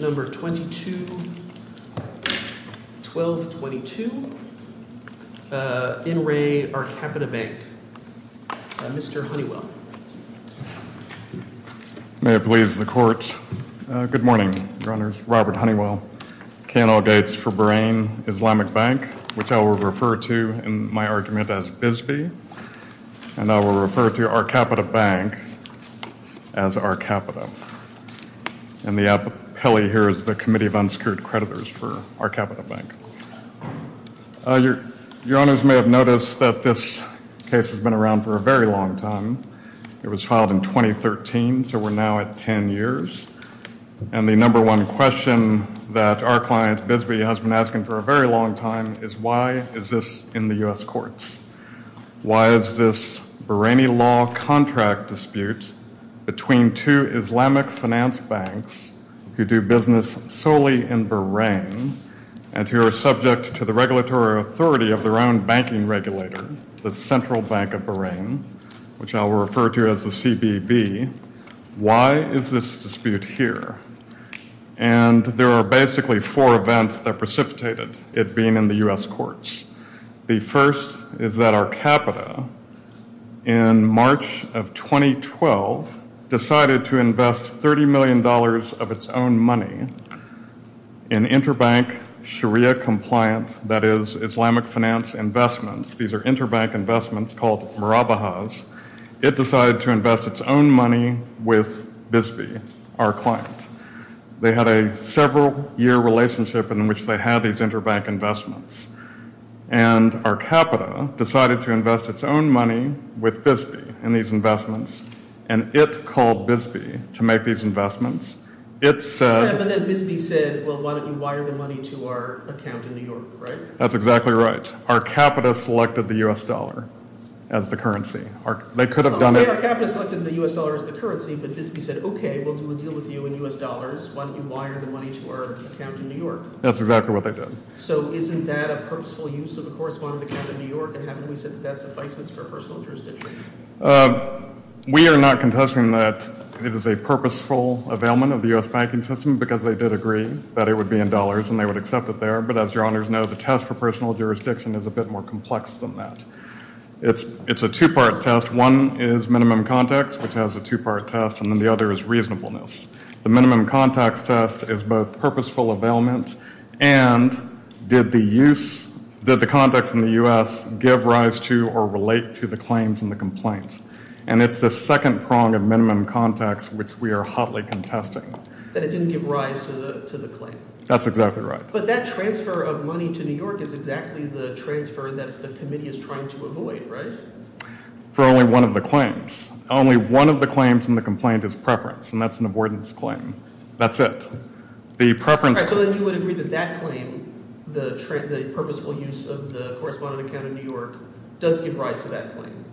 Number 22, 1222. In re Arcapita Bank. Mr. Honeywell. May it please the court. Good morning, your honors. Robert Honeywell, K&L Gates for Bahrain Islamic Bank, which I will refer to in my argument as Arcapita. And the appellee here is the Committee of Unsecured Creditors for Arcapita Bank. Your honors may have noticed that this case has been around for a very long time. It was filed in 2013, so we're now at 10 years. And the number one question that our client, Bisbee, has been asking for a very long time is why is this in the U.S. courts? Why is this Bahraini law contract dispute between two Islamic finance banks who do business solely in Bahrain and who are subject to the regulatory authority of their own banking regulator, the Central Bank of Bahrain, which I will refer to as the CBB. Why is this dispute here? And there are basically four events that precipitated it being in the U.S. courts. The first is that Arcapita, in March of 2012, decided to invest $30 million of its own money in interbank Sharia compliant, that is, Islamic finance investments. These are interbank investments called Marabahas. It decided to invest its own money with Bisbee, our client. They had a several year relationship in which they had these interbank investments. And Arcapita decided to invest its own money with Bisbee in these investments, and it called Bisbee to make these investments. It said... And then Bisbee said, well, why don't you wire the money to our account in New York, right? That's exactly right. Arcapita selected the U.S. dollar as the currency. They could have done it... Arcapita selected the U.S. dollar as the currency, but Bisbee said, okay, we'll deal with you in U.S. dollars. Why don't you wire the money to our account in New York? That's exactly what they did. So isn't that a purposeful use of the correspondent account in New York? And haven't we said that that suffices for personal jurisdiction? We are not contesting that it is a purposeful availment of the U.S. banking system because they did agree that it would be in dollars and they would accept it there. But as your honors know, the test for personal jurisdiction is a bit more complex than that. It's a two-part test. One is minimum context, which has a two-part test, and then the other is reasonableness. The minimum context test is both purposeful availment and did the use, did the context in the U.S. give rise to or relate to the claims and the complaints? And it's the second prong of minimum context, which we are hotly contesting. That it didn't give rise to the claim. That's exactly right. But that transfer of money to New York is exactly the transfer that the committee is trying to avoid, right? For only one of the claims. Only one of the claims in the complaint is preference, and that's an avoidance claim. That's it. The preference. So then you would agree that that claim, the purposeful use of the correspondent account in New York, does give rise to that claim?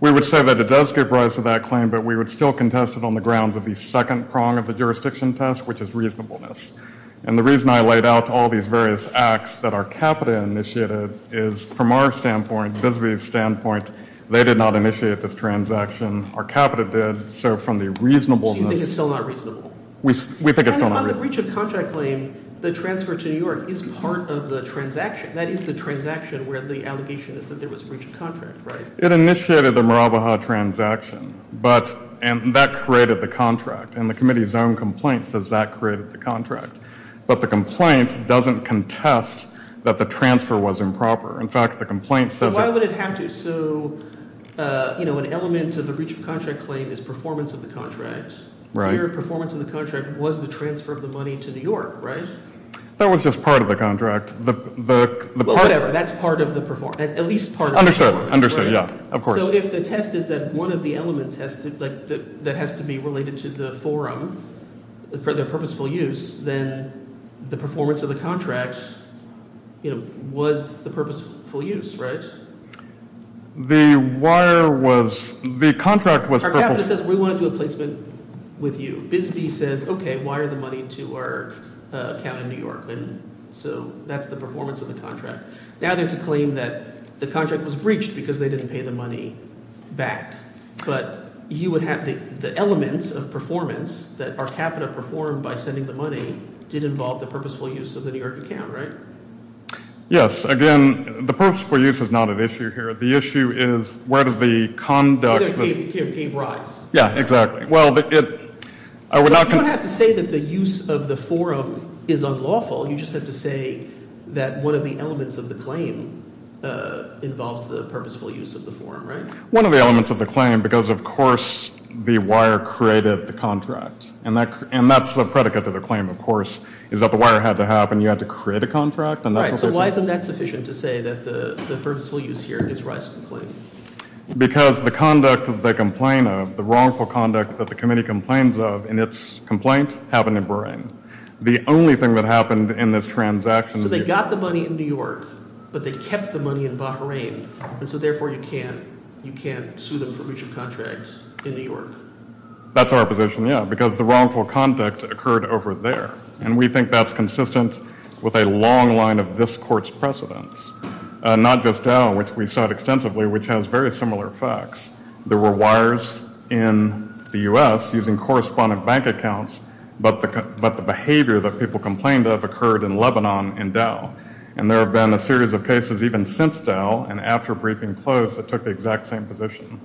We would say that it does give rise to that claim, but we would still contest it on the grounds of the second prong of the jurisdiction test, which is reasonableness. And the reason I laid out all these various acts that our capita initiated is from our standpoint, Visby's standpoint, they did not initiate this transaction. Our capita did. So from the reasonableness. So you think it's still not reasonable? We think it's still not reasonable. On the breach of contract claim, the transfer to New York is part of the transaction. That is the transaction where the allegation is that there was a breach of contract, right? It initiated the Marabaha transaction, but and that created the contract. And the committee's own complaint says that created the contract. But the complaint doesn't contest that the transfer was improper. In fact, the complaint says. Why would it have to? So, you know, an element of the breach of contract claim is performance of the contract. Right. Your performance in the contract was the transfer of the money to New York, right? That was just part of the contract. The whatever. That's part of the performance, at least part. Understood. Understood. Yeah, of course. So if the test is that one of the elements has to like that has to be related to the forum for their purposeful use, then the performance of the contract was the purposeful use. Right. The wire was the contract. We want to do a placement with you. Busby says, OK, why are the money to our account in New York? And so that's the performance of the contract. Now there's a claim that the contract was breached because they didn't pay the money back. But you would have the elements of performance that our capital performed by sending the money did involve the purposeful use of the New York account. Right. Yes. Again, the purposeful use is not an issue here. The issue is where did the conduct of the rise? Yeah, exactly. Well, I would not have to say that the use of the forum is unlawful. You just have to say that one of the elements of the claim involves the purposeful use of the forum. Right. One of the elements of the claim, because, of course, the wire created the contract. And that's the predicate of the claim, of course, is that the wire had to happen. You had to create a contract. So why isn't that sufficient to say that the purposeful use here is right? Because the conduct of the complainant, the wrongful conduct that the committee complains of in its complaint happened in Bahrain. The only thing that happened in this transaction. So they got the money in New York, but they kept the money in Bahrain, and so therefore you can't sue them for breach of contract in New York. That's our position, yeah, because the wrongful conduct occurred over there. And we think that's consistent with a long line of this court's precedents. Not just Dow, which we saw extensively, which has very similar facts. There were wires in the U.S. using correspondent bank accounts, but the behavior that people complained of occurred in Lebanon and Dow. And there have been a series of cases even since Dow and after briefing close that took the exact same position.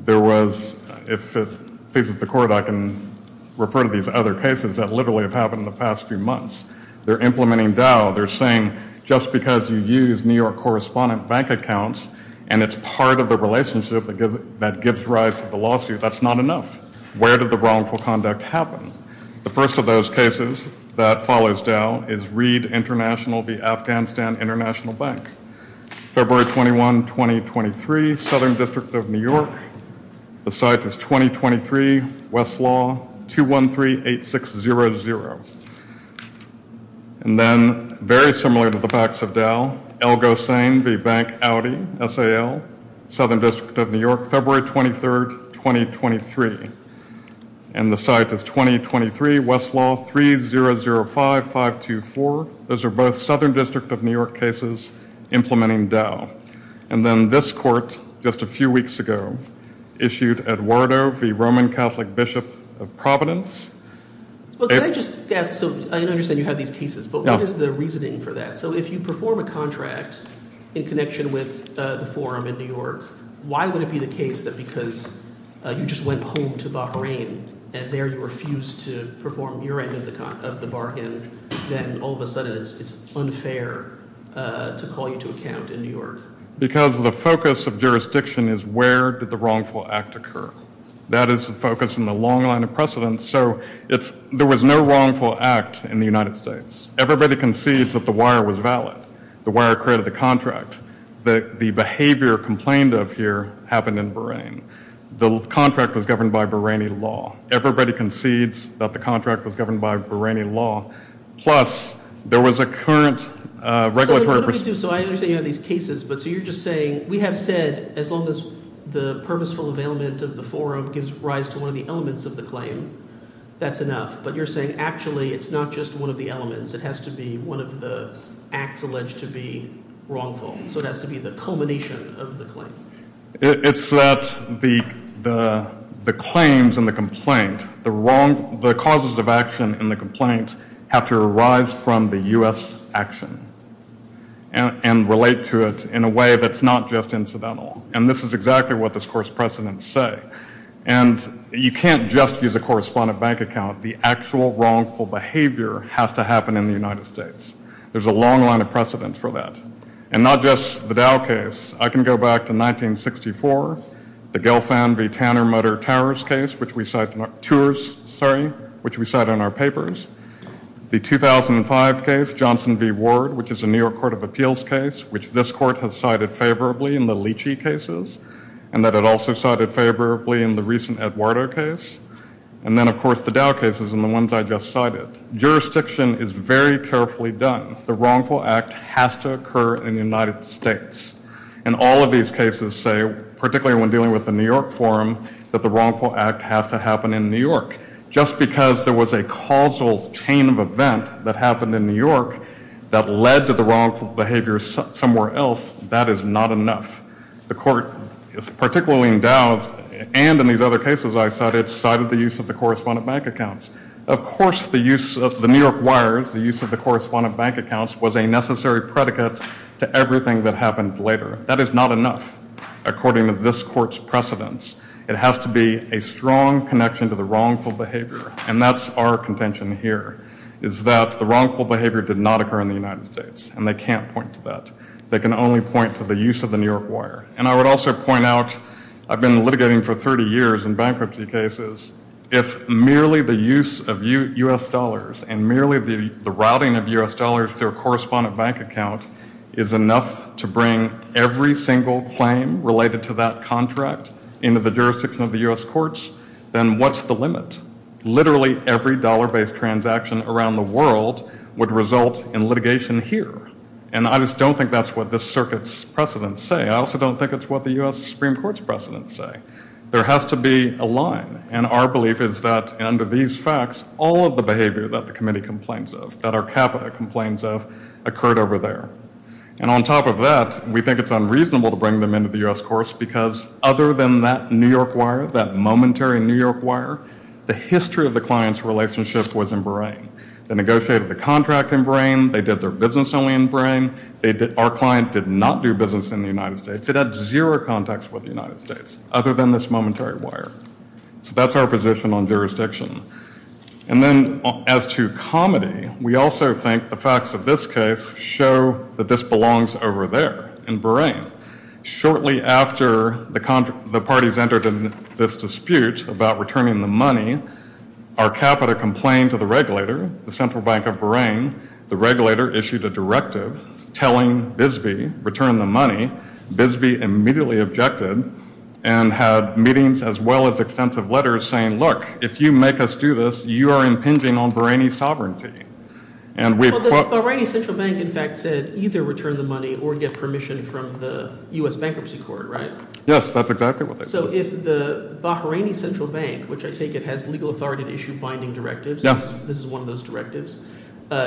There was, if it pleases the court, I can refer to these other cases that literally have happened in the past few months. They're implementing Dow, they're saying just because you use New York correspondent bank accounts and it's part of the relationship that gives rise to the lawsuit, that's not enough. Where did the wrongful conduct happen? The first of those cases that follows Dow is Reed International, the Afghanistan International Bank. February 21, 2023, Southern District of New York. The site is 2023, Westlaw, 2138600. And then very similar to the facts of Dow, Elgosane v. Bank Audi, SAL, Southern District of New York, February 23rd, 2023. And the site is 2023, Westlaw, 3005524. Those are both Southern District of New York cases implementing Dow. And then this court, just a few weeks ago, issued Eduardo v. Roman Catholic Bishop of Providence. Well, can I just ask, so I understand you have these cases, but what is the reasoning for that? So if you perform a contract in connection with the forum in New York, why would it be the case that because you just went home to Bahrain and there you refused to perform your end of the bargain, then all of a sudden it's unfair to call you to account in New York? Because the focus of jurisdiction is where did the wrongful act occur? That is the focus in the long line of precedence. So there was no wrongful act in the United States. Everybody concedes that the wire was valid. The wire created the contract. The behavior complained of here happened in Bahrain. The contract was governed by Bahraini law. Everybody concedes that the contract was governed by Bahraini law. Plus, there was a current regulatory- So what do we do? So I understand you have these cases, but so you're just saying, we have said, as long as the purposeful availment of the forum gives rise to one of the elements of the claim, that's enough. But you're saying, actually, it's not just one of the elements. It has to be one of the acts alleged to be wrongful. So it has to be the culmination of the claim. It's that the claims and the complaint, the causes of action in the complaint, have to arise from the U.S. action and relate to it in a way that's not just incidental. And this is exactly what this court's precedents say. And you can't just use a correspondent bank account. The actual wrongful behavior has to happen in the United States. There's a long line of precedence for that. And not just the Dow case. I can go back to 1964, the Gelfand v. Tanner-Mutter Towers case, which we cite in our- Tours, sorry, which we cite in our papers. The 2005 case, Johnson v. Ward, which is a New York Court of Appeals case, which this court has cited favorably in the Leachy cases, and that it also cited favorably in the recent Eduardo case. And then, of course, the Dow cases and the ones I just cited. Jurisdiction is very carefully done. The wrongful act has to occur in the United States. And all of these cases say, particularly when dealing with the New York forum, that the wrongful act has to happen in New York. Just because there was a causal chain of event that happened in New York that led to the wrongful behavior somewhere else, that is not enough. The court, particularly in Dow, and in these other cases I cited, cited the use of the correspondent bank accounts. Of course, the use of the New York wires, the use of the correspondent bank accounts, was a necessary predicate to everything that happened later. That is not enough, according to this court's precedence. It has to be a strong connection to the wrongful behavior. And that's our contention here, is that the wrongful behavior did not occur in the United States. And they can't point to that. They can only point to the use of the New York wire. And I would also point out, I've been litigating for 30 years in bankruptcy cases. If merely the use of U.S. dollars and merely the routing of U.S. dollars through a correspondent bank account is enough to bring every single claim related to that contract into the jurisdiction of the U.S. courts, then what's the limit? Literally every dollar-based transaction around the world would result in litigation here. And I just don't think that's what this circuit's precedence say. I also don't think it's what the U.S. Supreme Court's precedence say. There has to be a line. And our belief is that under these facts, all of the behavior that the committee complains of, that our capital complains of, occurred over there. And on top of that, we think it's unreasonable to bring them into the U.S. courts because other than that New York wire, that momentary New York wire, the history of the client's relationship was in brain. They negotiated the contract in brain. They did their business only in brain. Our client did not do business in the United States. It had zero context with the United States. Other than this momentary wire. So that's our position on jurisdiction. And then as to comedy, we also think the facts of this case show that this belongs over there in brain. Shortly after the parties entered in this dispute about returning the money, our capital complained to the regulator, the Central Bank of Brain. The regulator issued a directive telling Bisbee, return the money. Bisbee immediately objected and had meetings as well as extensive letters saying, look, if you make us do this, you are impinging on Bahraini sovereignty. And we. Well, the Bahraini Central Bank, in fact, said either return the money or get permission from the U.S. Bankruptcy Court, right? Yes, that's exactly what they said. So if the Bahraini Central Bank, which I take it has legal authority to issue binding directives. Yes. This is one of those directives.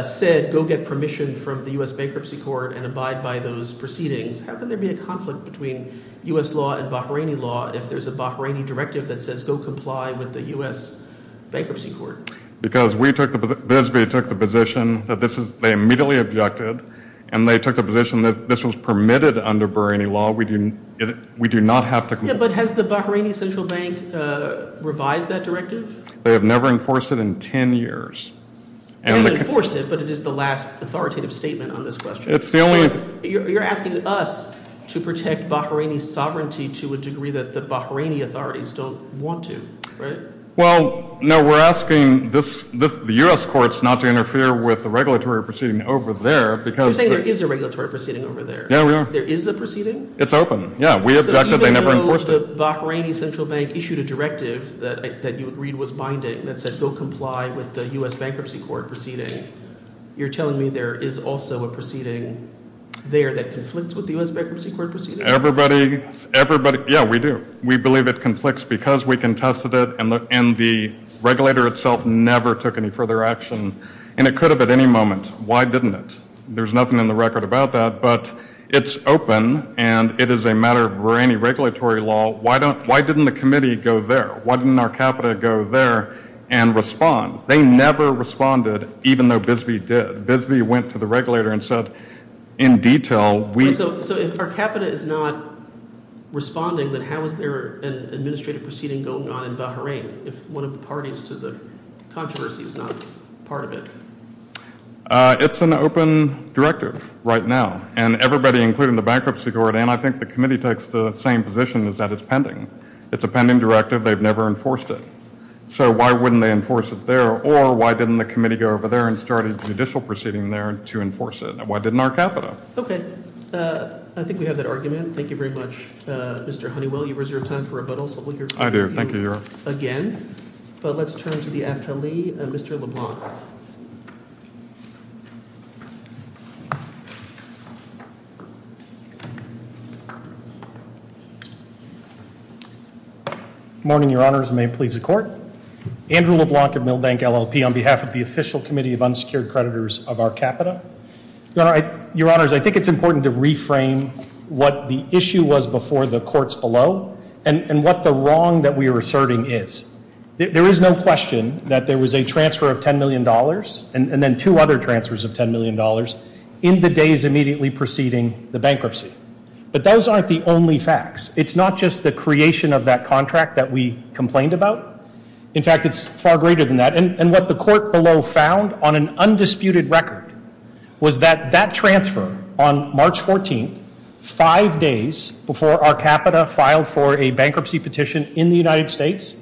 Said, go get permission from the U.S. Bankruptcy Court and abide by those proceedings. How can there be a conflict between U.S. law and Bahraini law if there's a Bahraini directive that says go comply with the U.S. Bankruptcy Court? Because we took the, Bisbee took the position that this is, they immediately objected and they took the position that this was permitted under Bahraini law. We do not have to comply. Yes, but has the Bahraini Central Bank revised that directive? They have never enforced it in 10 years. They've enforced it, but it is the last authoritative statement on this question. It's the only. You're asking us to protect Bahraini sovereignty to a degree that the Bahraini authorities don't want to, right? Well, no, we're asking this, the U.S. courts not to interfere with the regulatory proceeding over there because. You're saying there is a regulatory proceeding over there? Yeah, we are. There is a proceeding? It's open. Yeah, we object that they never enforced it. So even though the Bahraini Central Bank issued a directive that you agreed was binding that said go comply with the U.S. Bankruptcy Court proceeding, you're telling me there is also a proceeding there that conflicts with the U.S. Bankruptcy Court proceeding? Everybody, everybody, yeah, we do. We believe it conflicts because we contested it and the regulator itself never took any further action and it could have at any moment. Why didn't it? There's nothing in the record about that, but it's open and it is a matter of Bahraini regulatory law. Why don't, why didn't the committee go there? Why didn't our capita go there and respond? They never responded even though Bisbee did. Bisbee went to the regulator and said in detail we. So if our capita is not responding, then how is there an administrative proceeding going on in Bahrain if one of the parties to the controversy is not part of it? It's an open directive right now and everybody including the Bankruptcy Court and I think the committee takes the same position is that it's pending. It's a pending directive. They've never enforced it. So why wouldn't they enforce it there or why didn't the committee go over there and start a judicial proceeding there to enforce it? Why didn't our capita? Okay. I think we have that argument. Thank you very much, Mr. Honeywell. You reserve time for rebuttals. I do. Thank you, Your Honor. Again. But let's turn to the afterly, Mr. LeBlanc. Morning, Your Honors. May it please the Court. Andrew LeBlanc of Milbank LLP on behalf of the Official Committee of Unsecured Creditors of our Capita. Your Honors, I think it's important to reframe what the issue was before the courts below and what the wrong that we are asserting is. There is no question that there was a transfer of $10 million and then two other transfers of $10 million in the days immediately preceding the bankruptcy. But those aren't the only facts. It's not just the creation of that contract that we complained about. In fact, it's far greater than that. And what the court below found on an undisputed record was that that transfer on March 14th, five days before our Capita filed for a bankruptcy petition in the United States,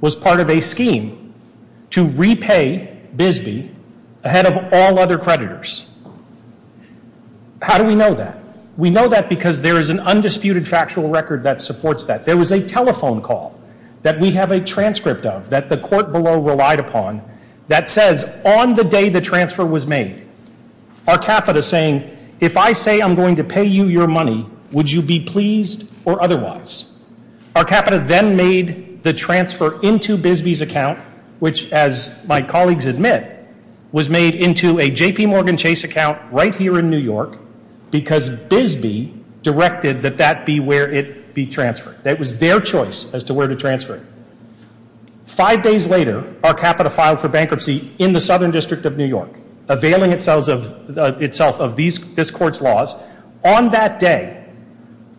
was part of a scheme to repay Bisbee ahead of all other creditors. How do we know that? We know that because there is an undisputed factual record that supports that. There was a telephone call that we have a transcript of that the court below relied upon that says on the day the transfer was made, our Capita saying, if I say I'm going to pay you your money, would you be pleased or otherwise? Our Capita then made the transfer into Bisbee's account, which as my colleagues admit, was made into a JPMorgan Chase account right here in New York because Bisbee directed that that be where it be transferred. That was their choice as to where to transfer it. Five days later, our Capita filed for bankruptcy in the Southern District of New York, availing itself of this court's laws. On that day,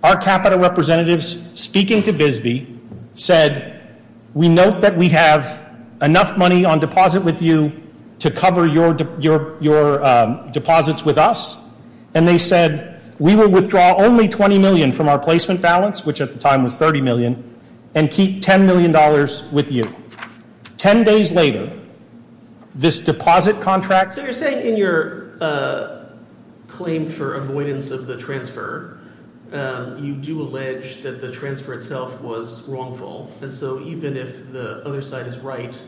our Capita representatives speaking to Bisbee said, we note that we have enough money on deposit with you to cover your deposits with us. And they said, we will withdraw only $20 million from our placement balance, which at the time was $30 million, and keep $10 million with you. Ten days later, this deposit contract. So you're saying in your claim for avoidance of the transfer, you do allege that the transfer itself was wrongful. And so even if the other side is right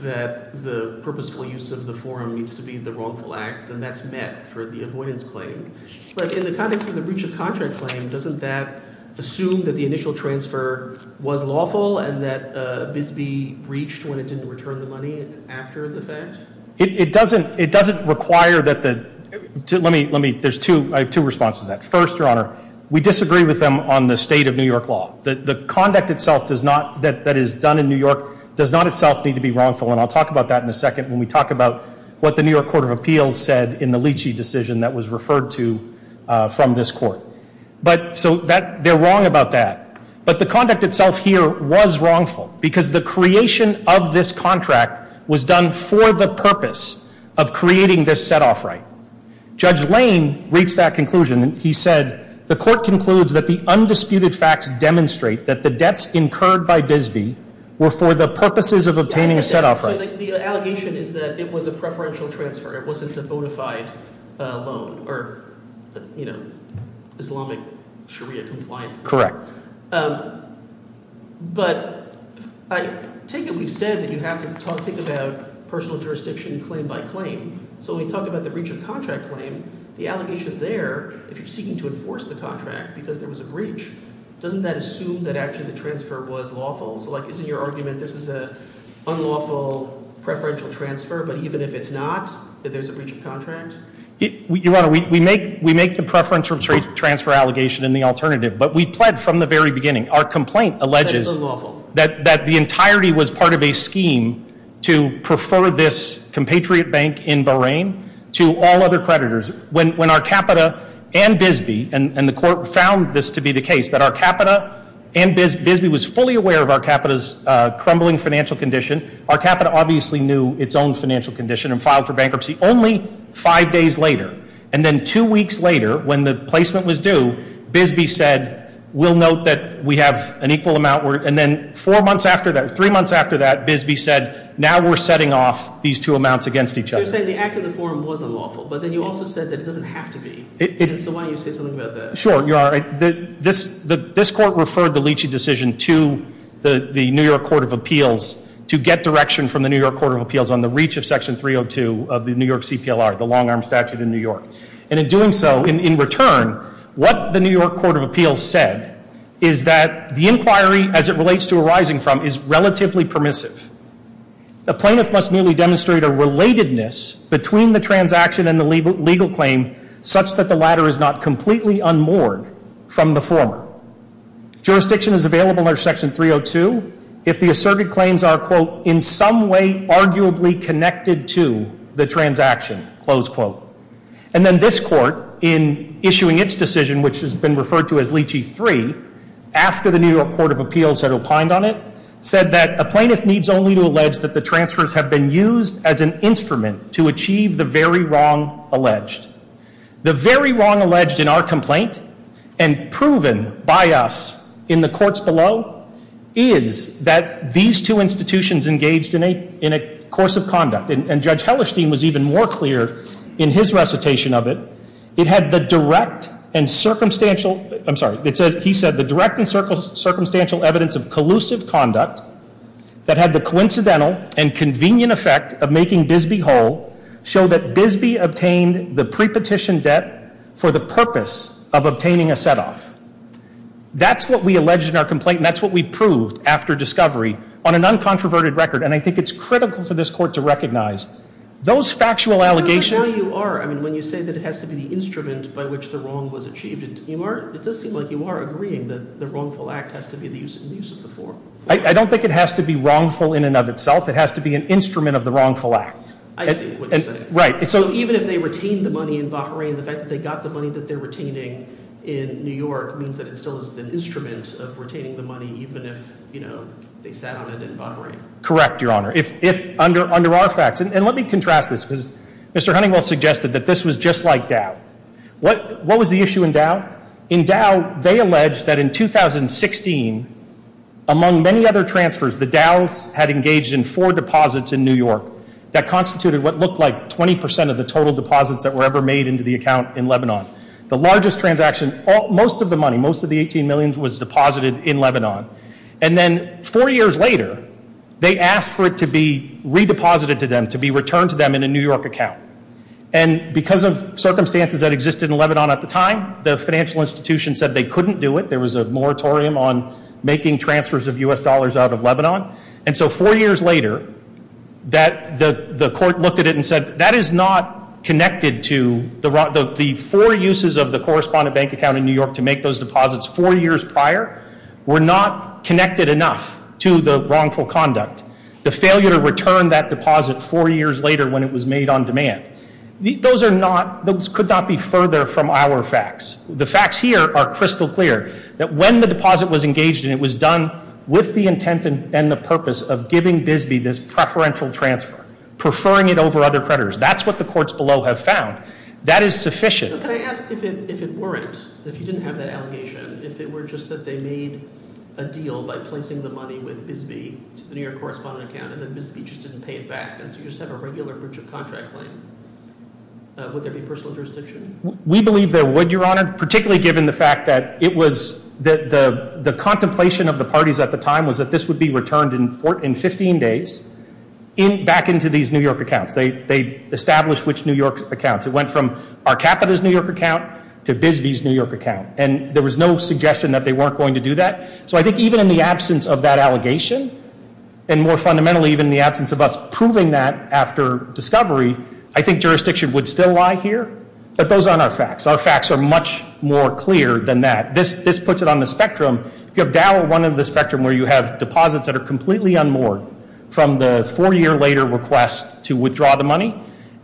that the purposeful use of the forum needs to be the wrongful act, then that's met for the avoidance claim. But in the context of the breach of contract claim, doesn't that assume that the initial transfer was lawful and that Bisbee breached when it didn't return the money after the fact? It doesn't require that the, let me, there's two responses to that. First, your honor, we disagree with them on the state of New York law. The conduct itself that is done in New York does not itself need to be wrongful, and I'll talk about that in a second. When we talk about what the New York Court of Appeals said in the Leachy decision that was referred to from this court. But, so they're wrong about that. But the conduct itself here was wrongful, because the creation of this contract was done for the purpose of creating this set off right. Judge Lane reached that conclusion, and he said, the court concludes that the undisputed facts demonstrate that the debts incurred by Bisbee were for the purposes of obtaining a set off right. The allegation is that it was a preferential transfer. It wasn't a notified loan, or Islamic Sharia compliant. Correct. But, I take it we've said that you have to think about personal jurisdiction claim by claim. So when we talk about the breach of contract claim, the allegation there, if you're seeking to enforce the contract because there was a breach, doesn't that assume that actually the transfer was lawful? So like, isn't your argument this is a unlawful preferential transfer, but even if it's not, that there's a breach of contract? Your Honor, we make the preferential transfer allegation in the alternative, but we pled from the very beginning. Our complaint alleges that the entirety was part of a scheme to prefer this compatriot bank in Bahrain to all other creditors. When our capita and Bisbee, and the court found this to be the case, that our capita and Bisbee was fully aware of our capita's crumbling financial condition. Our capita obviously knew its own financial condition and filed for bankruptcy only five days later. And then two weeks later, when the placement was due, Bisbee said, we'll note that we have an equal amount. And then four months after that, three months after that, Bisbee said, now we're setting off these two amounts against each other. So you're saying the act of the forum was unlawful, but then you also said that it doesn't have to be. And so why don't you say something about that? Sure, Your Honor, this court referred the Leachy decision to the New York Court of Appeals to get direction from the New York Court of Appeals on the reach of section 302 of the New York CPLR, the long arm statute in New York. And in doing so, in return, what the New York Court of Appeals said is that the inquiry, as it relates to arising from, is relatively permissive. The plaintiff must merely demonstrate a relatedness between the transaction and the legal claim such that the latter is not completely unmoored from the former. Jurisdiction is available under section 302 if the asserted claims are, quote, in some way arguably connected to the transaction, close quote. And then this court, in issuing its decision, which has been referred to as Leachy 3, after the New York Court of Appeals had opined on it, said that a plaintiff needs only to allege that the transfers have been used as an instrument to achieve the very wrong alleged. The very wrong alleged in our complaint, and proven by us in the courts below, is that these two institutions engaged in a course of conduct. And Judge Hellerstein was even more clear in his recitation of it. It had the direct and circumstantial, I'm sorry, he said the direct and circumstantial evidence of making Bisbee whole show that Bisbee obtained the pre-petition debt for the purpose of obtaining a set off. That's what we alleged in our complaint, and that's what we proved after discovery on an uncontroverted record. And I think it's critical for this court to recognize those factual allegations. I mean, when you say that it has to be the instrument by which the wrong was achieved, it does seem like you are agreeing that the wrongful act has to be the use of the form. I don't think it has to be wrongful in and of itself. It has to be an instrument of the wrongful act. I see what you're saying. Right. So even if they retained the money in Bahrain, the fact that they got the money that they're retaining in New York means that it still is an instrument of retaining the money, even if they sat on it in Bahrain. Correct, Your Honor. If under our facts, and let me contrast this, because Mr. Huntingwell suggested that this was just like Dow. What was the issue in Dow? In Dow, they alleged that in 2016, among many other transfers, the Dows had engaged in four deposits in New York that constituted what looked like 20% of the total deposits that were ever made into the account in Lebanon. The largest transaction, most of the money, most of the 18 million was deposited in Lebanon. And then four years later, they asked for it to be redeposited to them, to be returned to them in a New York account. And because of circumstances that existed in Lebanon at the time, the financial institution said they couldn't do it. There was a moratorium on making transfers of US dollars out of Lebanon. And so four years later, the court looked at it and said, that is not connected to the four uses of the correspondent bank account in New York to make those deposits four years prior. We're not connected enough to the wrongful conduct. The failure to return that deposit four years later when it was made on demand. Those could not be further from our facts. The facts here are crystal clear, that when the deposit was engaged and it was done with the intent and the purpose of giving Bisbee this preferential transfer, preferring it over other creditors. That's what the courts below have found. That is sufficient. So can I ask if it weren't, if you didn't have that allegation, if it were just that they made a deal by placing the money with Bisbee to the New York correspondent account, and then Bisbee just didn't pay it back. And so you just have a regular breach of contract claim, would there be personal jurisdiction? We believe there would, Your Honor, particularly given the fact that it was, the contemplation of the parties at the time was that this would be returned in 15 days back into these New York accounts. They established which New York accounts. It went from our Capita's New York account to Bisbee's New York account. And there was no suggestion that they weren't going to do that. So I think even in the absence of that allegation, and more fundamentally, even in the absence of us proving that after discovery, I think jurisdiction would still lie here. But those aren't our facts. Our facts are much more clear than that. This puts it on the spectrum, if you have Dowell, one of the spectrum where you have deposits that are completely unmoored from the four year later request to withdraw the money.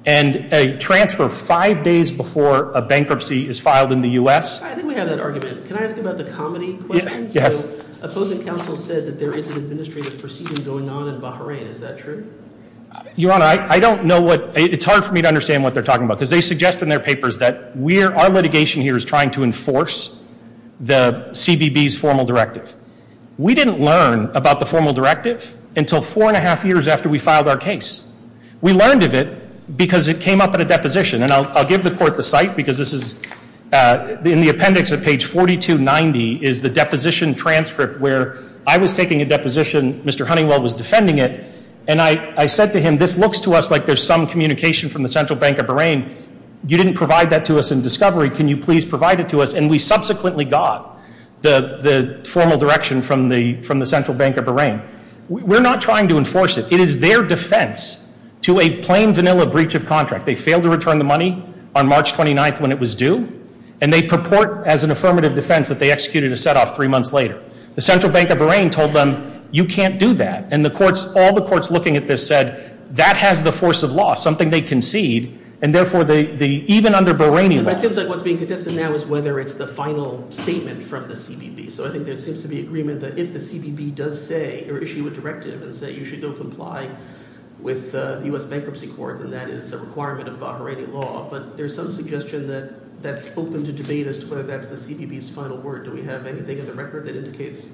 And a transfer five days before a bankruptcy is filed in the US. I think we have that argument. Can I ask about the comedy question? Yes. Opposing counsel said that there is an administrative proceeding going on in Bahrain, is that true? Your Honor, I don't know what, it's hard for me to understand what they're talking about. Because they suggest in their papers that our litigation here is trying to enforce the CBB's formal directive. We didn't learn about the formal directive until four and a half years after we filed our case. We learned of it because it came up in a deposition. And I'll give the court the site because this is in the appendix at page 4290 is the deposition transcript where I was taking a deposition, Mr. Honeywell was defending it. And I said to him, this looks to us like there's some communication from the Central Bank of Bahrain. You didn't provide that to us in discovery, can you please provide it to us? And we subsequently got the formal direction from the Central Bank of Bahrain. We're not trying to enforce it. It is their defense to a plain vanilla breach of contract. They failed to return the money on March 29th when it was due. And they purport as an affirmative defense that they executed a set off three months later. The Central Bank of Bahrain told them, you can't do that. And all the courts looking at this said, that has the force of law, something they concede. And therefore, even under Bahraini law- It seems like what's being contested now is whether it's the final statement from the CBB. So I think there seems to be agreement that if the CBB does say, or issue a directive and say, you should go comply with the US Bankruptcy Court, then that is a requirement of Bahraini law. But there's some suggestion that that's open to debate as to whether that's the CBB's final word. Do we have anything in the record that indicates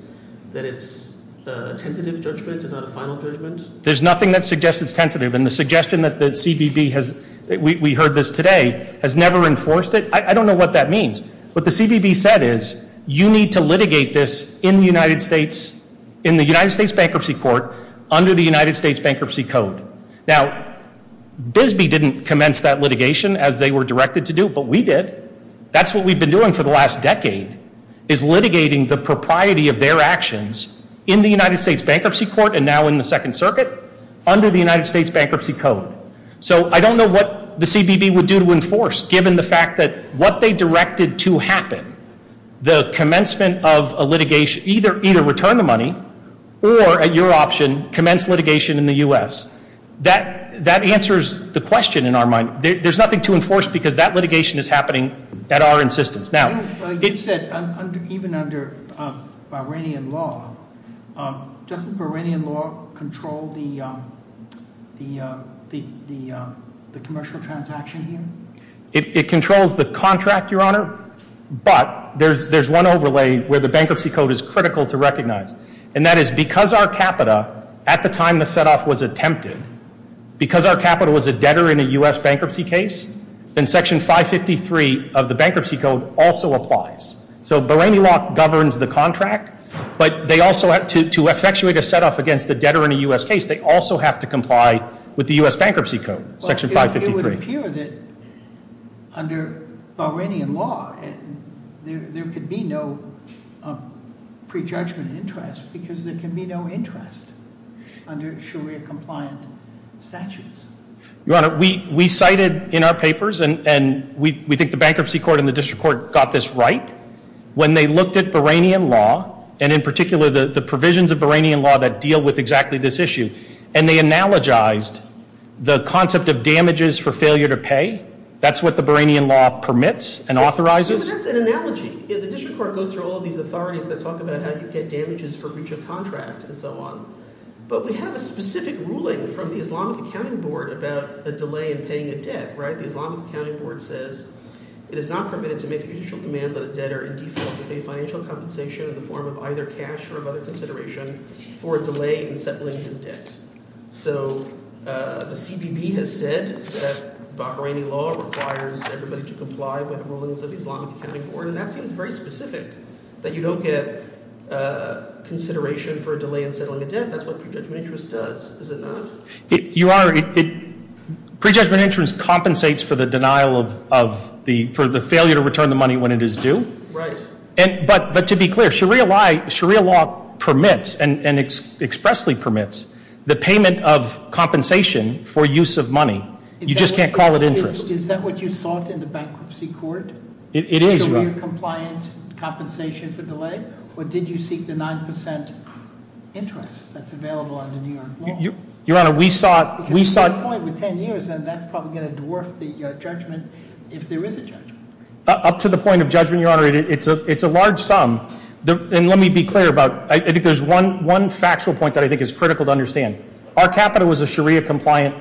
that it's a tentative judgment and not a final judgment? There's nothing that suggests it's tentative. And the suggestion that the CBB has, we heard this today, has never enforced it. I don't know what that means. What the CBB said is, you need to litigate this in the United States, in the United States Bankruptcy Court, under the United States Bankruptcy Code. Now, Bisbee didn't commence that litigation as they were directed to do, but we did. That's what we've been doing for the last decade, is litigating the propriety of their actions in the United States Bankruptcy Court, and now in the Second Circuit, under the United States Bankruptcy Code. So I don't know what the CBB would do to enforce, given the fact that what they directed to happen, the commencement of a litigation, either return the money, or at your option, commence litigation in the US. That answers the question in our mind. There's nothing to enforce because that litigation is happening at our insistence. Now- You've said, even under Iranian law, doesn't Iranian law control the commercial transaction here? It controls the contract, your honor, but there's one overlay where the bankruptcy code is critical to recognize. And that is, because our capita, at the time the set off was attempted, because our capita was a debtor in a US bankruptcy case, then section 553 of So Bahraini law governs the contract, but to effectuate a set off against the debtor in a US case, they also have to comply with the US Bankruptcy Code, section 553. It would appear that under Bahrainian law, there could be no pre-judgment interest, because there can be no interest under Sharia compliant statutes. Your honor, we cited in our papers, and we think the bankruptcy court and the district court got this right, when they looked at Bahrainian law, and in particular the provisions of Bahrainian law that deal with exactly this issue, and they analogized the concept of damages for failure to pay. That's what the Bahrainian law permits and authorizes. That's an analogy. The district court goes through all these authorities that talk about how you get damages for breach of contract and so on. But we have a specific ruling from the Islamic Accounting Board about a delay in paying a debt. The Islamic Accounting Board says it is not permitted to make a judicial command that a debtor in default to pay financial compensation in the form of either cash or of other consideration for a delay in settling his debt. So the CBP has said that Bahraini law requires everybody to comply with the rulings of the Islamic Accounting Board, and that seems very specific, that you don't get consideration for a delay in settling a debt. That's what prejudgment interest does, is it not? Your honor, prejudgment interest compensates for the denial of, for the failure to return the money when it is due. Right. But to be clear, Sharia law permits, and expressly permits, the payment of compensation for use of money, you just can't call it interest. Is that what you sought in the bankruptcy court? It is, your honor. Sharia compliant compensation for delay, or did you seek the 9% interest that's available under New York law? Your honor, we sought- Because at this point, with ten years, then that's probably going to dwarf the judgment, if there is a judgment. Up to the point of judgment, your honor, it's a large sum. And let me be clear about, I think there's one factual point that I think is critical to understand. Our capital was a Sharia compliant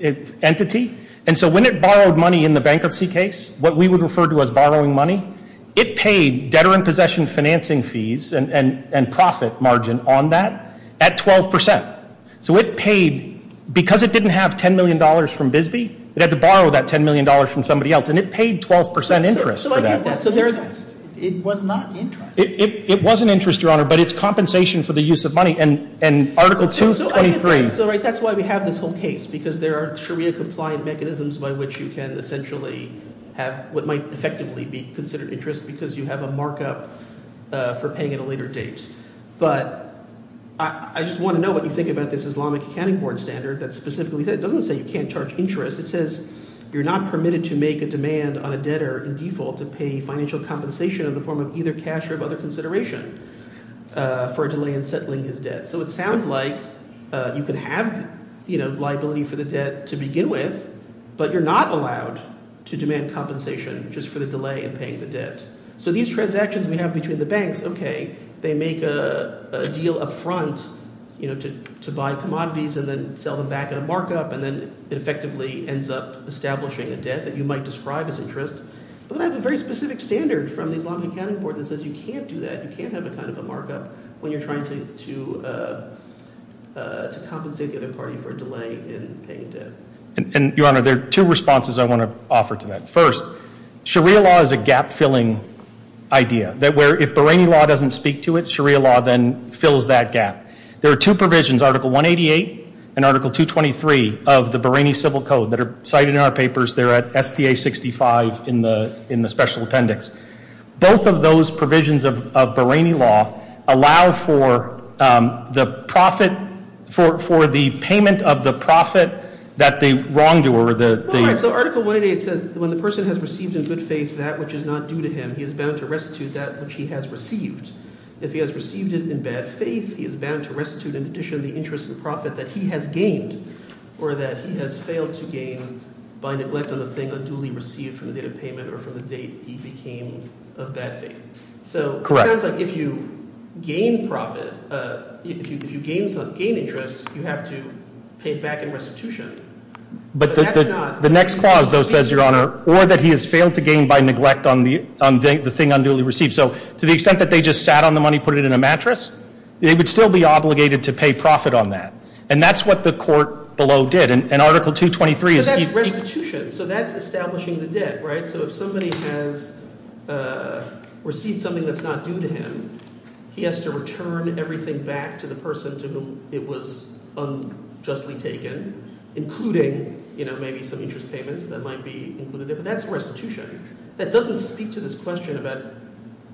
entity, and so when it borrowed money in the bankruptcy case, what we would refer to as borrowing money, it paid debtor in possession financing fees and profit margin on that at 12%. So it paid, because it didn't have $10 million from Bisbee, it had to borrow that $10 million from somebody else. And it paid 12% interest for that. So I get that, it was not interest. It wasn't interest, your honor, but it's compensation for the use of money. And article 223- Under which you can essentially have what might effectively be considered interest because you have a markup for paying at a later date. But I just want to know what you think about this Islamic accounting board standard that specifically says, it doesn't say you can't charge interest. It says you're not permitted to make a demand on a debtor in default to pay financial compensation in the form of either cash or of other consideration for a delay in settling his debt. So it sounds like you could have liability for the debt to begin with. But you're not allowed to demand compensation just for the delay in paying the debt. So these transactions we have between the banks, okay, they make a deal up front to buy commodities and then sell them back in a markup and then it effectively ends up establishing a debt that you might describe as interest. But I have a very specific standard from the Islamic accounting board that says you can't do that. You can't have a kind of a markup when you're trying to compensate the other party for a delay in paying a debt. And your honor, there are two responses I want to offer to that. First, Sharia law is a gap filling idea. That where if Bahraini law doesn't speak to it, Sharia law then fills that gap. There are two provisions, Article 188 and Article 223 of the Bahraini Civil Code that are cited in our papers. They're at SPA 65 in the special appendix. Both of those provisions of Bahraini law allow for the profit for the payment of the profit that the wrongdoer, the- All right, so Article 188 says when the person has received in good faith that which is not due to him, he is bound to restitute that which he has received. If he has received it in bad faith, he is bound to restitute in addition the interest and profit that he has gained. Or that he has failed to gain by neglect of the thing unduly received from the date of payment or from the date he became of bad faith. So it sounds like if you gain profit, if you gain interest, you have to pay it back in restitution. But that's not- The next clause, though, says, your honor, or that he has failed to gain by neglect on the thing unduly received. So to the extent that they just sat on the money, put it in a mattress, they would still be obligated to pay profit on that. And that's what the court below did. And Article 223 is- But that's restitution. So that's establishing the debt, right? So if somebody has received something that's not due to him, he has to return everything back to the person to whom it was unjustly taken, including maybe some interest payments that might be included there, but that's restitution. That doesn't speak to this question about,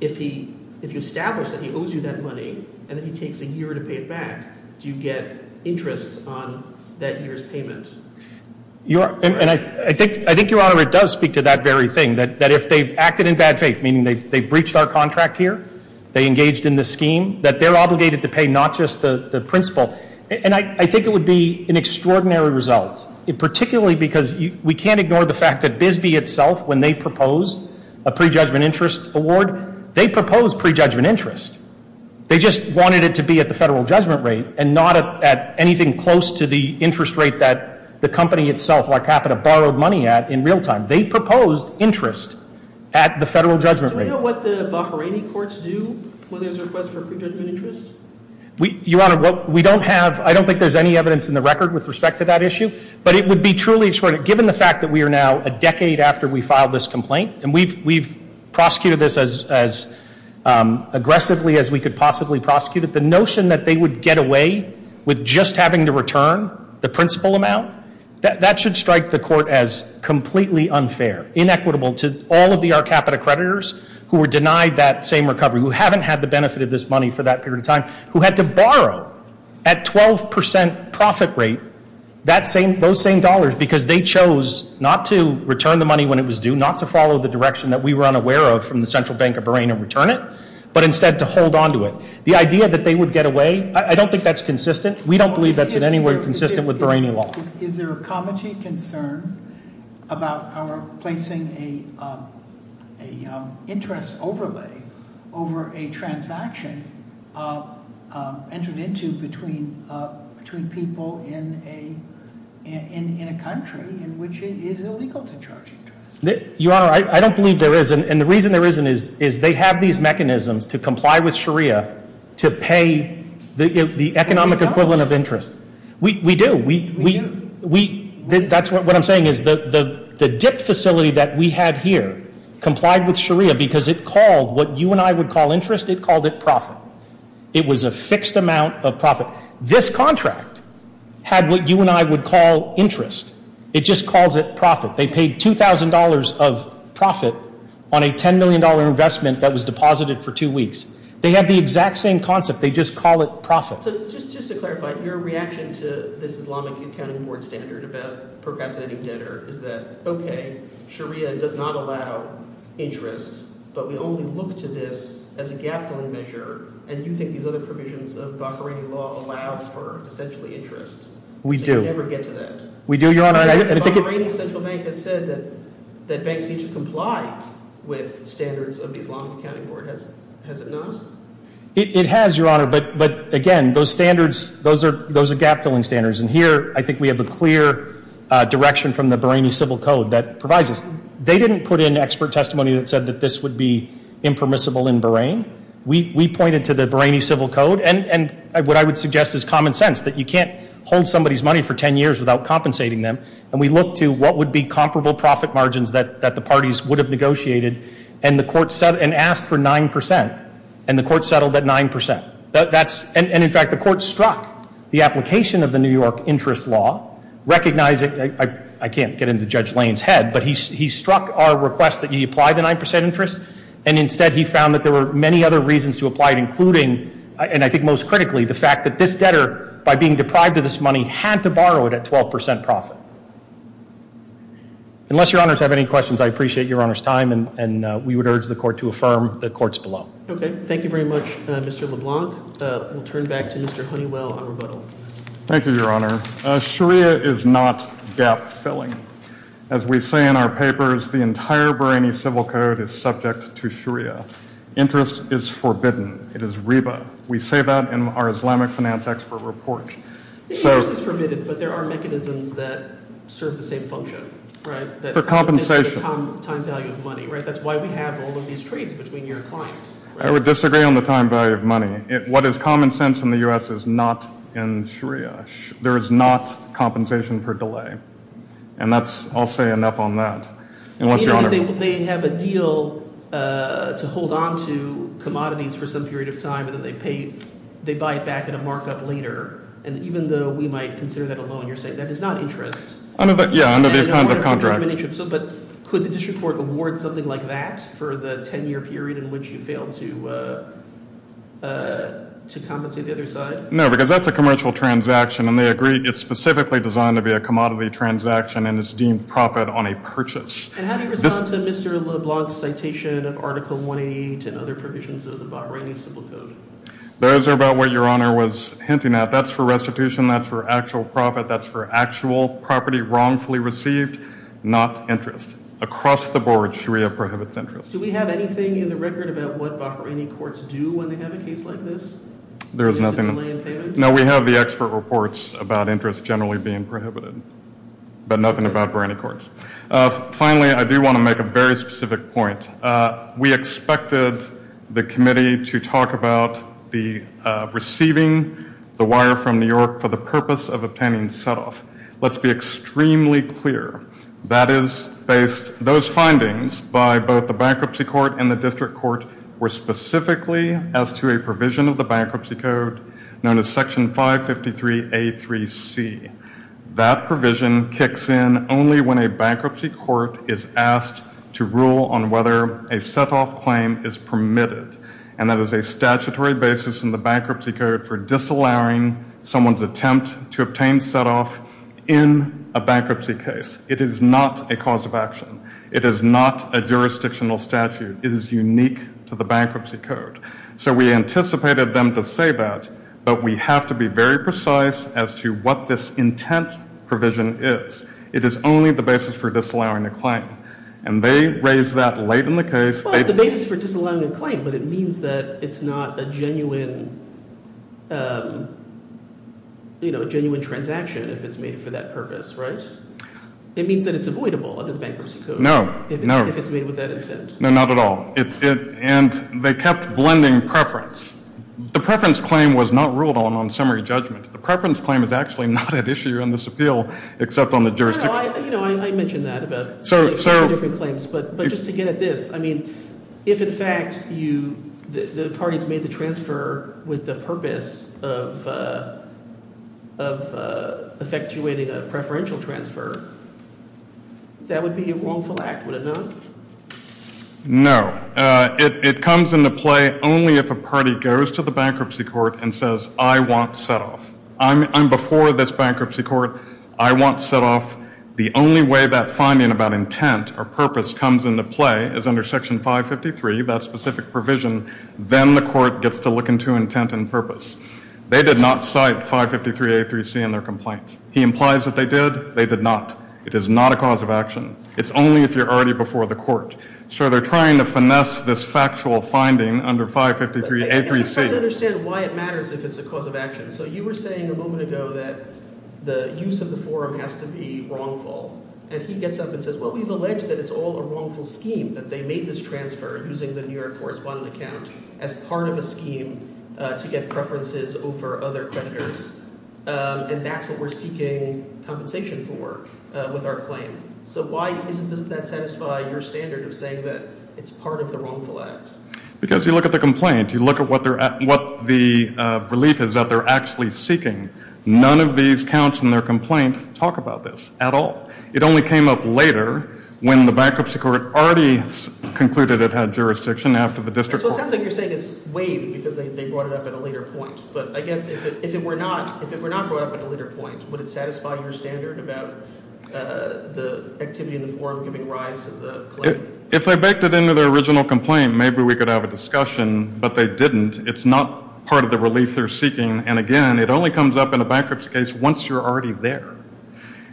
if you establish that he owes you that money, and then he takes a year to pay it back, do you get interest on that year's payment? And I think, your honor, it does speak to that very thing, that if they've acted in bad faith, meaning they've breached our contract here, they engaged in this scheme, that they're obligated to pay not just the principal. And I think it would be an extraordinary result, particularly because we can't ignore the fact that Bisbee itself, when they proposed a pre-judgment interest award, they proposed pre-judgment interest. They just wanted it to be at the federal judgment rate, and not at anything close to the interest rate that the company itself, like Capita, borrowed money at in real time. They proposed interest at the federal judgment rate. Do we know what the Bahraini courts do when there's a request for pre-judgment interest? We, your honor, we don't have, I don't think there's any evidence in the record with respect to that issue. But it would be truly extraordinary, given the fact that we are now a decade after we filed this complaint, and we've prosecuted this as aggressively as we could possibly prosecute it. The notion that they would get away with just having to return the principal amount, that should strike the court as completely unfair, inequitable to all of the our Capita creditors, who were denied that same recovery, who haven't had the benefit of this money for that period of time. Who had to borrow at 12% profit rate those same dollars, because they chose not to return the money when it was due, not to follow the direction that we were unaware of from the Central Bank of Bahrain and return it, but instead to hold on to it. The idea that they would get away, I don't think that's consistent. We don't believe that's in any way consistent with Bahraini law. Is there a common key concern about our placing a interest overlay over a transaction that has been entered into between people in a country in which it is illegal to charge interest? Your Honor, I don't believe there is. And the reason there isn't is they have these mechanisms to comply with Sharia to pay the economic equivalent of interest. We do, that's what I'm saying is the dip facility that we had here complied with Sharia because it called what you and I would call interest, it called it profit. It was a fixed amount of profit. This contract had what you and I would call interest. It just calls it profit. They paid $2,000 of profit on a $10 million investment that was deposited for two weeks. They have the exact same concept, they just call it profit. So just to clarify, your reaction to this Islamic accounting board standard about procrastinating debtor is that, okay, Sharia does not allow interest, but we only look to this as a gap-filling measure. And you think these other provisions of Bahraini law allow for essentially interest. We do. So we never get to that. We do, Your Honor. And I think- Bahraini Central Bank has said that banks need to comply with standards of the Islamic accounting board. Has it not? It has, Your Honor, but again, those standards, those are gap-filling standards. And here, I think we have a clear direction from the Bahraini Civil Code that provides this. They didn't put in expert testimony that said that this would be impermissible in Bahrain. We pointed to the Bahraini Civil Code, and what I would suggest is common sense, that you can't hold somebody's money for 10 years without compensating them. And we looked to what would be comparable profit margins that the parties would have negotiated and asked for 9%. And the court settled at 9%. And in fact, the court struck the application of the New York interest law, recognizing, I can't get into Judge Lane's head, but he struck our request that you apply the 9% interest. And instead, he found that there were many other reasons to apply it, including, and I think most critically, the fact that this debtor, by being deprived of this money, had to borrow it at 12% profit. Unless Your Honors have any questions, I appreciate Your Honor's time, and we would urge the court to affirm the courts below. Okay, thank you very much, Mr. LeBlanc. We'll turn back to Mr. Honeywell on rebuttal. Thank you, Your Honor. Sharia is not gap filling. As we say in our papers, the entire Bahraini Civil Code is subject to Sharia. Interest is forbidden. It is reba. We say that in our Islamic finance expert report. The interest is permitted, but there are mechanisms that serve the same function, right? For compensation. Time value of money, right? That's why we have all of these trades between your clients. I would disagree on the time value of money. What is common sense in the US is not in Sharia. There is not compensation for delay. And that's, I'll say enough on that. Unless Your Honor- They have a deal to hold on to commodities for some period of time, and then they pay. They buy it back at a markup later. And even though we might consider that a loan, you're saying that is not interest. Yeah, under these kinds of contracts. But could the district court award something like that for the ten year period in which you failed to compensate the other side? No, because that's a commercial transaction, and they agree it's specifically designed to be a commodity transaction, and it's deemed profit on a purchase. And how do you respond to Mr. LeBlanc's citation of Article 188 and other provisions of the Bahraini Civil Code? Those are about what Your Honor was hinting at. That's for restitution. That's for actual profit. That's for actual property wrongfully received. Not interest. Across the board, Sharia prohibits interest. Do we have anything in the record about what Bahraini courts do when they have a case like this? There's nothing- Is there a delay in payment? No, we have the expert reports about interest generally being prohibited. But nothing about Bahraini courts. Finally, I do want to make a very specific point. We expected the committee to talk about the receiving the wire from New York for the purpose of obtaining set off. Let's be extremely clear. That is based, those findings by both the bankruptcy court and the district court were specifically as to a provision of the bankruptcy code known as Section 553A3C. That provision kicks in only when a bankruptcy court is asked to rule on whether a set off claim is permitted. And that is a statutory basis in the bankruptcy code for disallowing someone's attempt to obtain set off in a bankruptcy case. It is not a cause of action. It is not a jurisdictional statute. It is unique to the bankruptcy code. So we anticipated them to say that, but we have to be very precise as to what this intent provision is. It is only the basis for disallowing a claim. And they raised that late in the case. It's the basis for disallowing a claim, but it means that it's not a genuine transaction if it's made for that purpose, right? It means that it's avoidable under the bankruptcy code if it's made with that intent. No, not at all. And they kept blending preference. The preference claim was not ruled on on summary judgment. The preference claim is actually not at issue in this appeal except on the jurisdiction. I mentioned that about different claims, but just to get at this. I mean, if in fact the parties made the transfer with the purpose of effectuating a preferential transfer, that would be a wrongful act, would it not? No, it comes into play only if a party goes to the bankruptcy court and says, I want set off. I'm before this bankruptcy court. I want set off. The only way that finding about intent or purpose comes into play is under section 553, that specific provision. Then the court gets to look into intent and purpose. They did not cite 553A3C in their complaint. He implies that they did. They did not. It is not a cause of action. It's only if you're already before the court. So they're trying to finesse this factual finding under 553A3C. I don't understand why it matters if it's a cause of action. So you were saying a moment ago that the use of the forum has to be wrongful. And he gets up and says, well, we've alleged that it's all a wrongful scheme that they made this transfer using the New York correspondent account as part of a scheme to get preferences over other creditors. And that's what we're seeking compensation for with our claim. So why doesn't that satisfy your standard of saying that it's part of the wrongful act? Because you look at the complaint, you look at what the relief is that they're actually seeking. None of these counts in their complaint talk about this at all. It only came up later when the bankruptcy court already concluded it had jurisdiction after the district court. So it sounds like you're saying it's waived because they brought it up at a later point. But I guess if it were not brought up at a later point, would it satisfy your standard about the activity in the forum giving rise to the claim? If they baked it into their original complaint, maybe we could have a discussion. But they didn't. It's not part of the relief they're seeking. And again, it only comes up in a bankruptcy case once you're already there.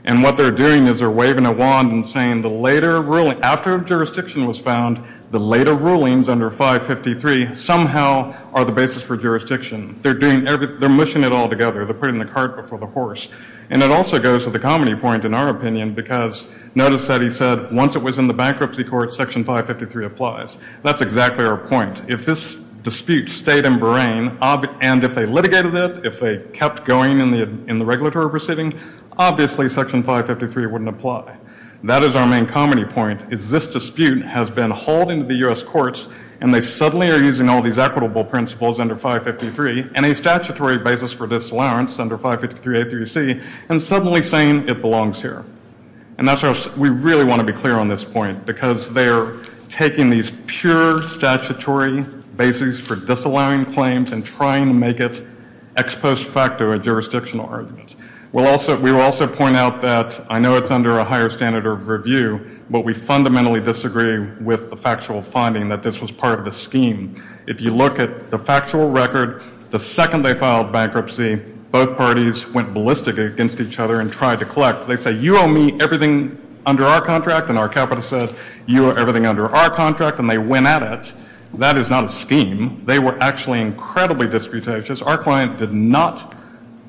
And what they're doing is they're waving a wand and saying the later ruling, after jurisdiction was found, the later rulings under 553 somehow are the basis for jurisdiction. They're doing everything. They're mushing it all together. They're putting the cart before the horse. And it also goes to the comedy point, in our opinion, because notice that he said, once it was in the bankruptcy court, section 553 applies. That's exactly our point. If this dispute stayed in Bahrain, and if they litigated it, if they kept going in the regulatory proceeding, obviously section 553 wouldn't apply. That is our main comedy point, is this dispute has been hauled into the U.S. courts. And they suddenly are using all these equitable principles under 553 and a statutory basis for disallowance under 553A through C, and suddenly saying it belongs here. And that's why we really want to be clear on this point, because they're taking these pure statutory bases for disallowing claims and trying to make it ex post facto a jurisdictional argument. We will also point out that I know it's under a higher standard of review, but we fundamentally disagree with the factual finding that this was part of the scheme. If you look at the factual record, the second they filed bankruptcy, both parties went ballistic against each other and tried to collect. They say, you owe me everything under our contract, and our capital said, you owe everything under our contract, and they went at it. That is not a scheme. They were actually incredibly disputatious. Our client did not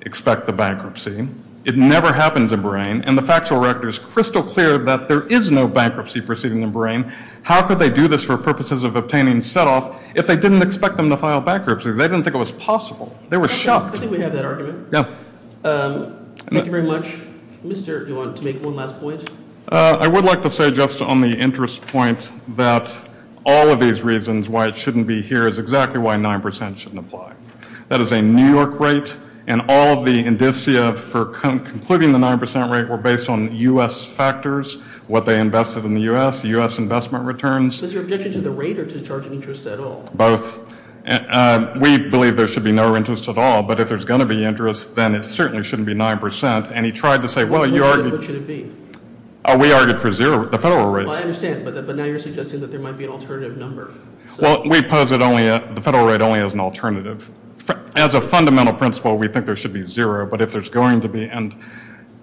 expect the bankruptcy. It never happens in Bahrain, and the factual record is crystal clear that there is no bankruptcy proceeding in Bahrain. How could they do this for purposes of obtaining set off if they didn't expect them to file bankruptcy? They didn't think it was possible. They were shocked. I think we have that argument. Yeah. Thank you very much. Mr., do you want to make one last point? I would like to say just on the interest point that all of these reasons why it shouldn't be here is exactly why 9% shouldn't apply. That is a New York rate, and all of the indicia for concluding the 9% rate were based on US factors, what they invested in the US, the US investment returns. Is your objection to the rate or to the charging interest at all? Both. We believe there should be no interest at all, but if there's going to be interest, then it certainly shouldn't be 9%. And he tried to say, well, you argued- What should it be? We argued for zero, the federal rates. I understand, but now you're suggesting that there might be an alternative number. Well, we pose it only, the federal rate only as an alternative. As a fundamental principle, we think there should be zero, but if there's going to be, and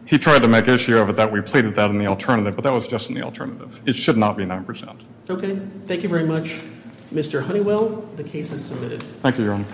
he tried to make issue of it that we pleaded that in the alternative, but that was just in the alternative. It should not be 9%. Okay, thank you very much. Mr. Honeywell, the case is submitted. Thank you, Your Honor.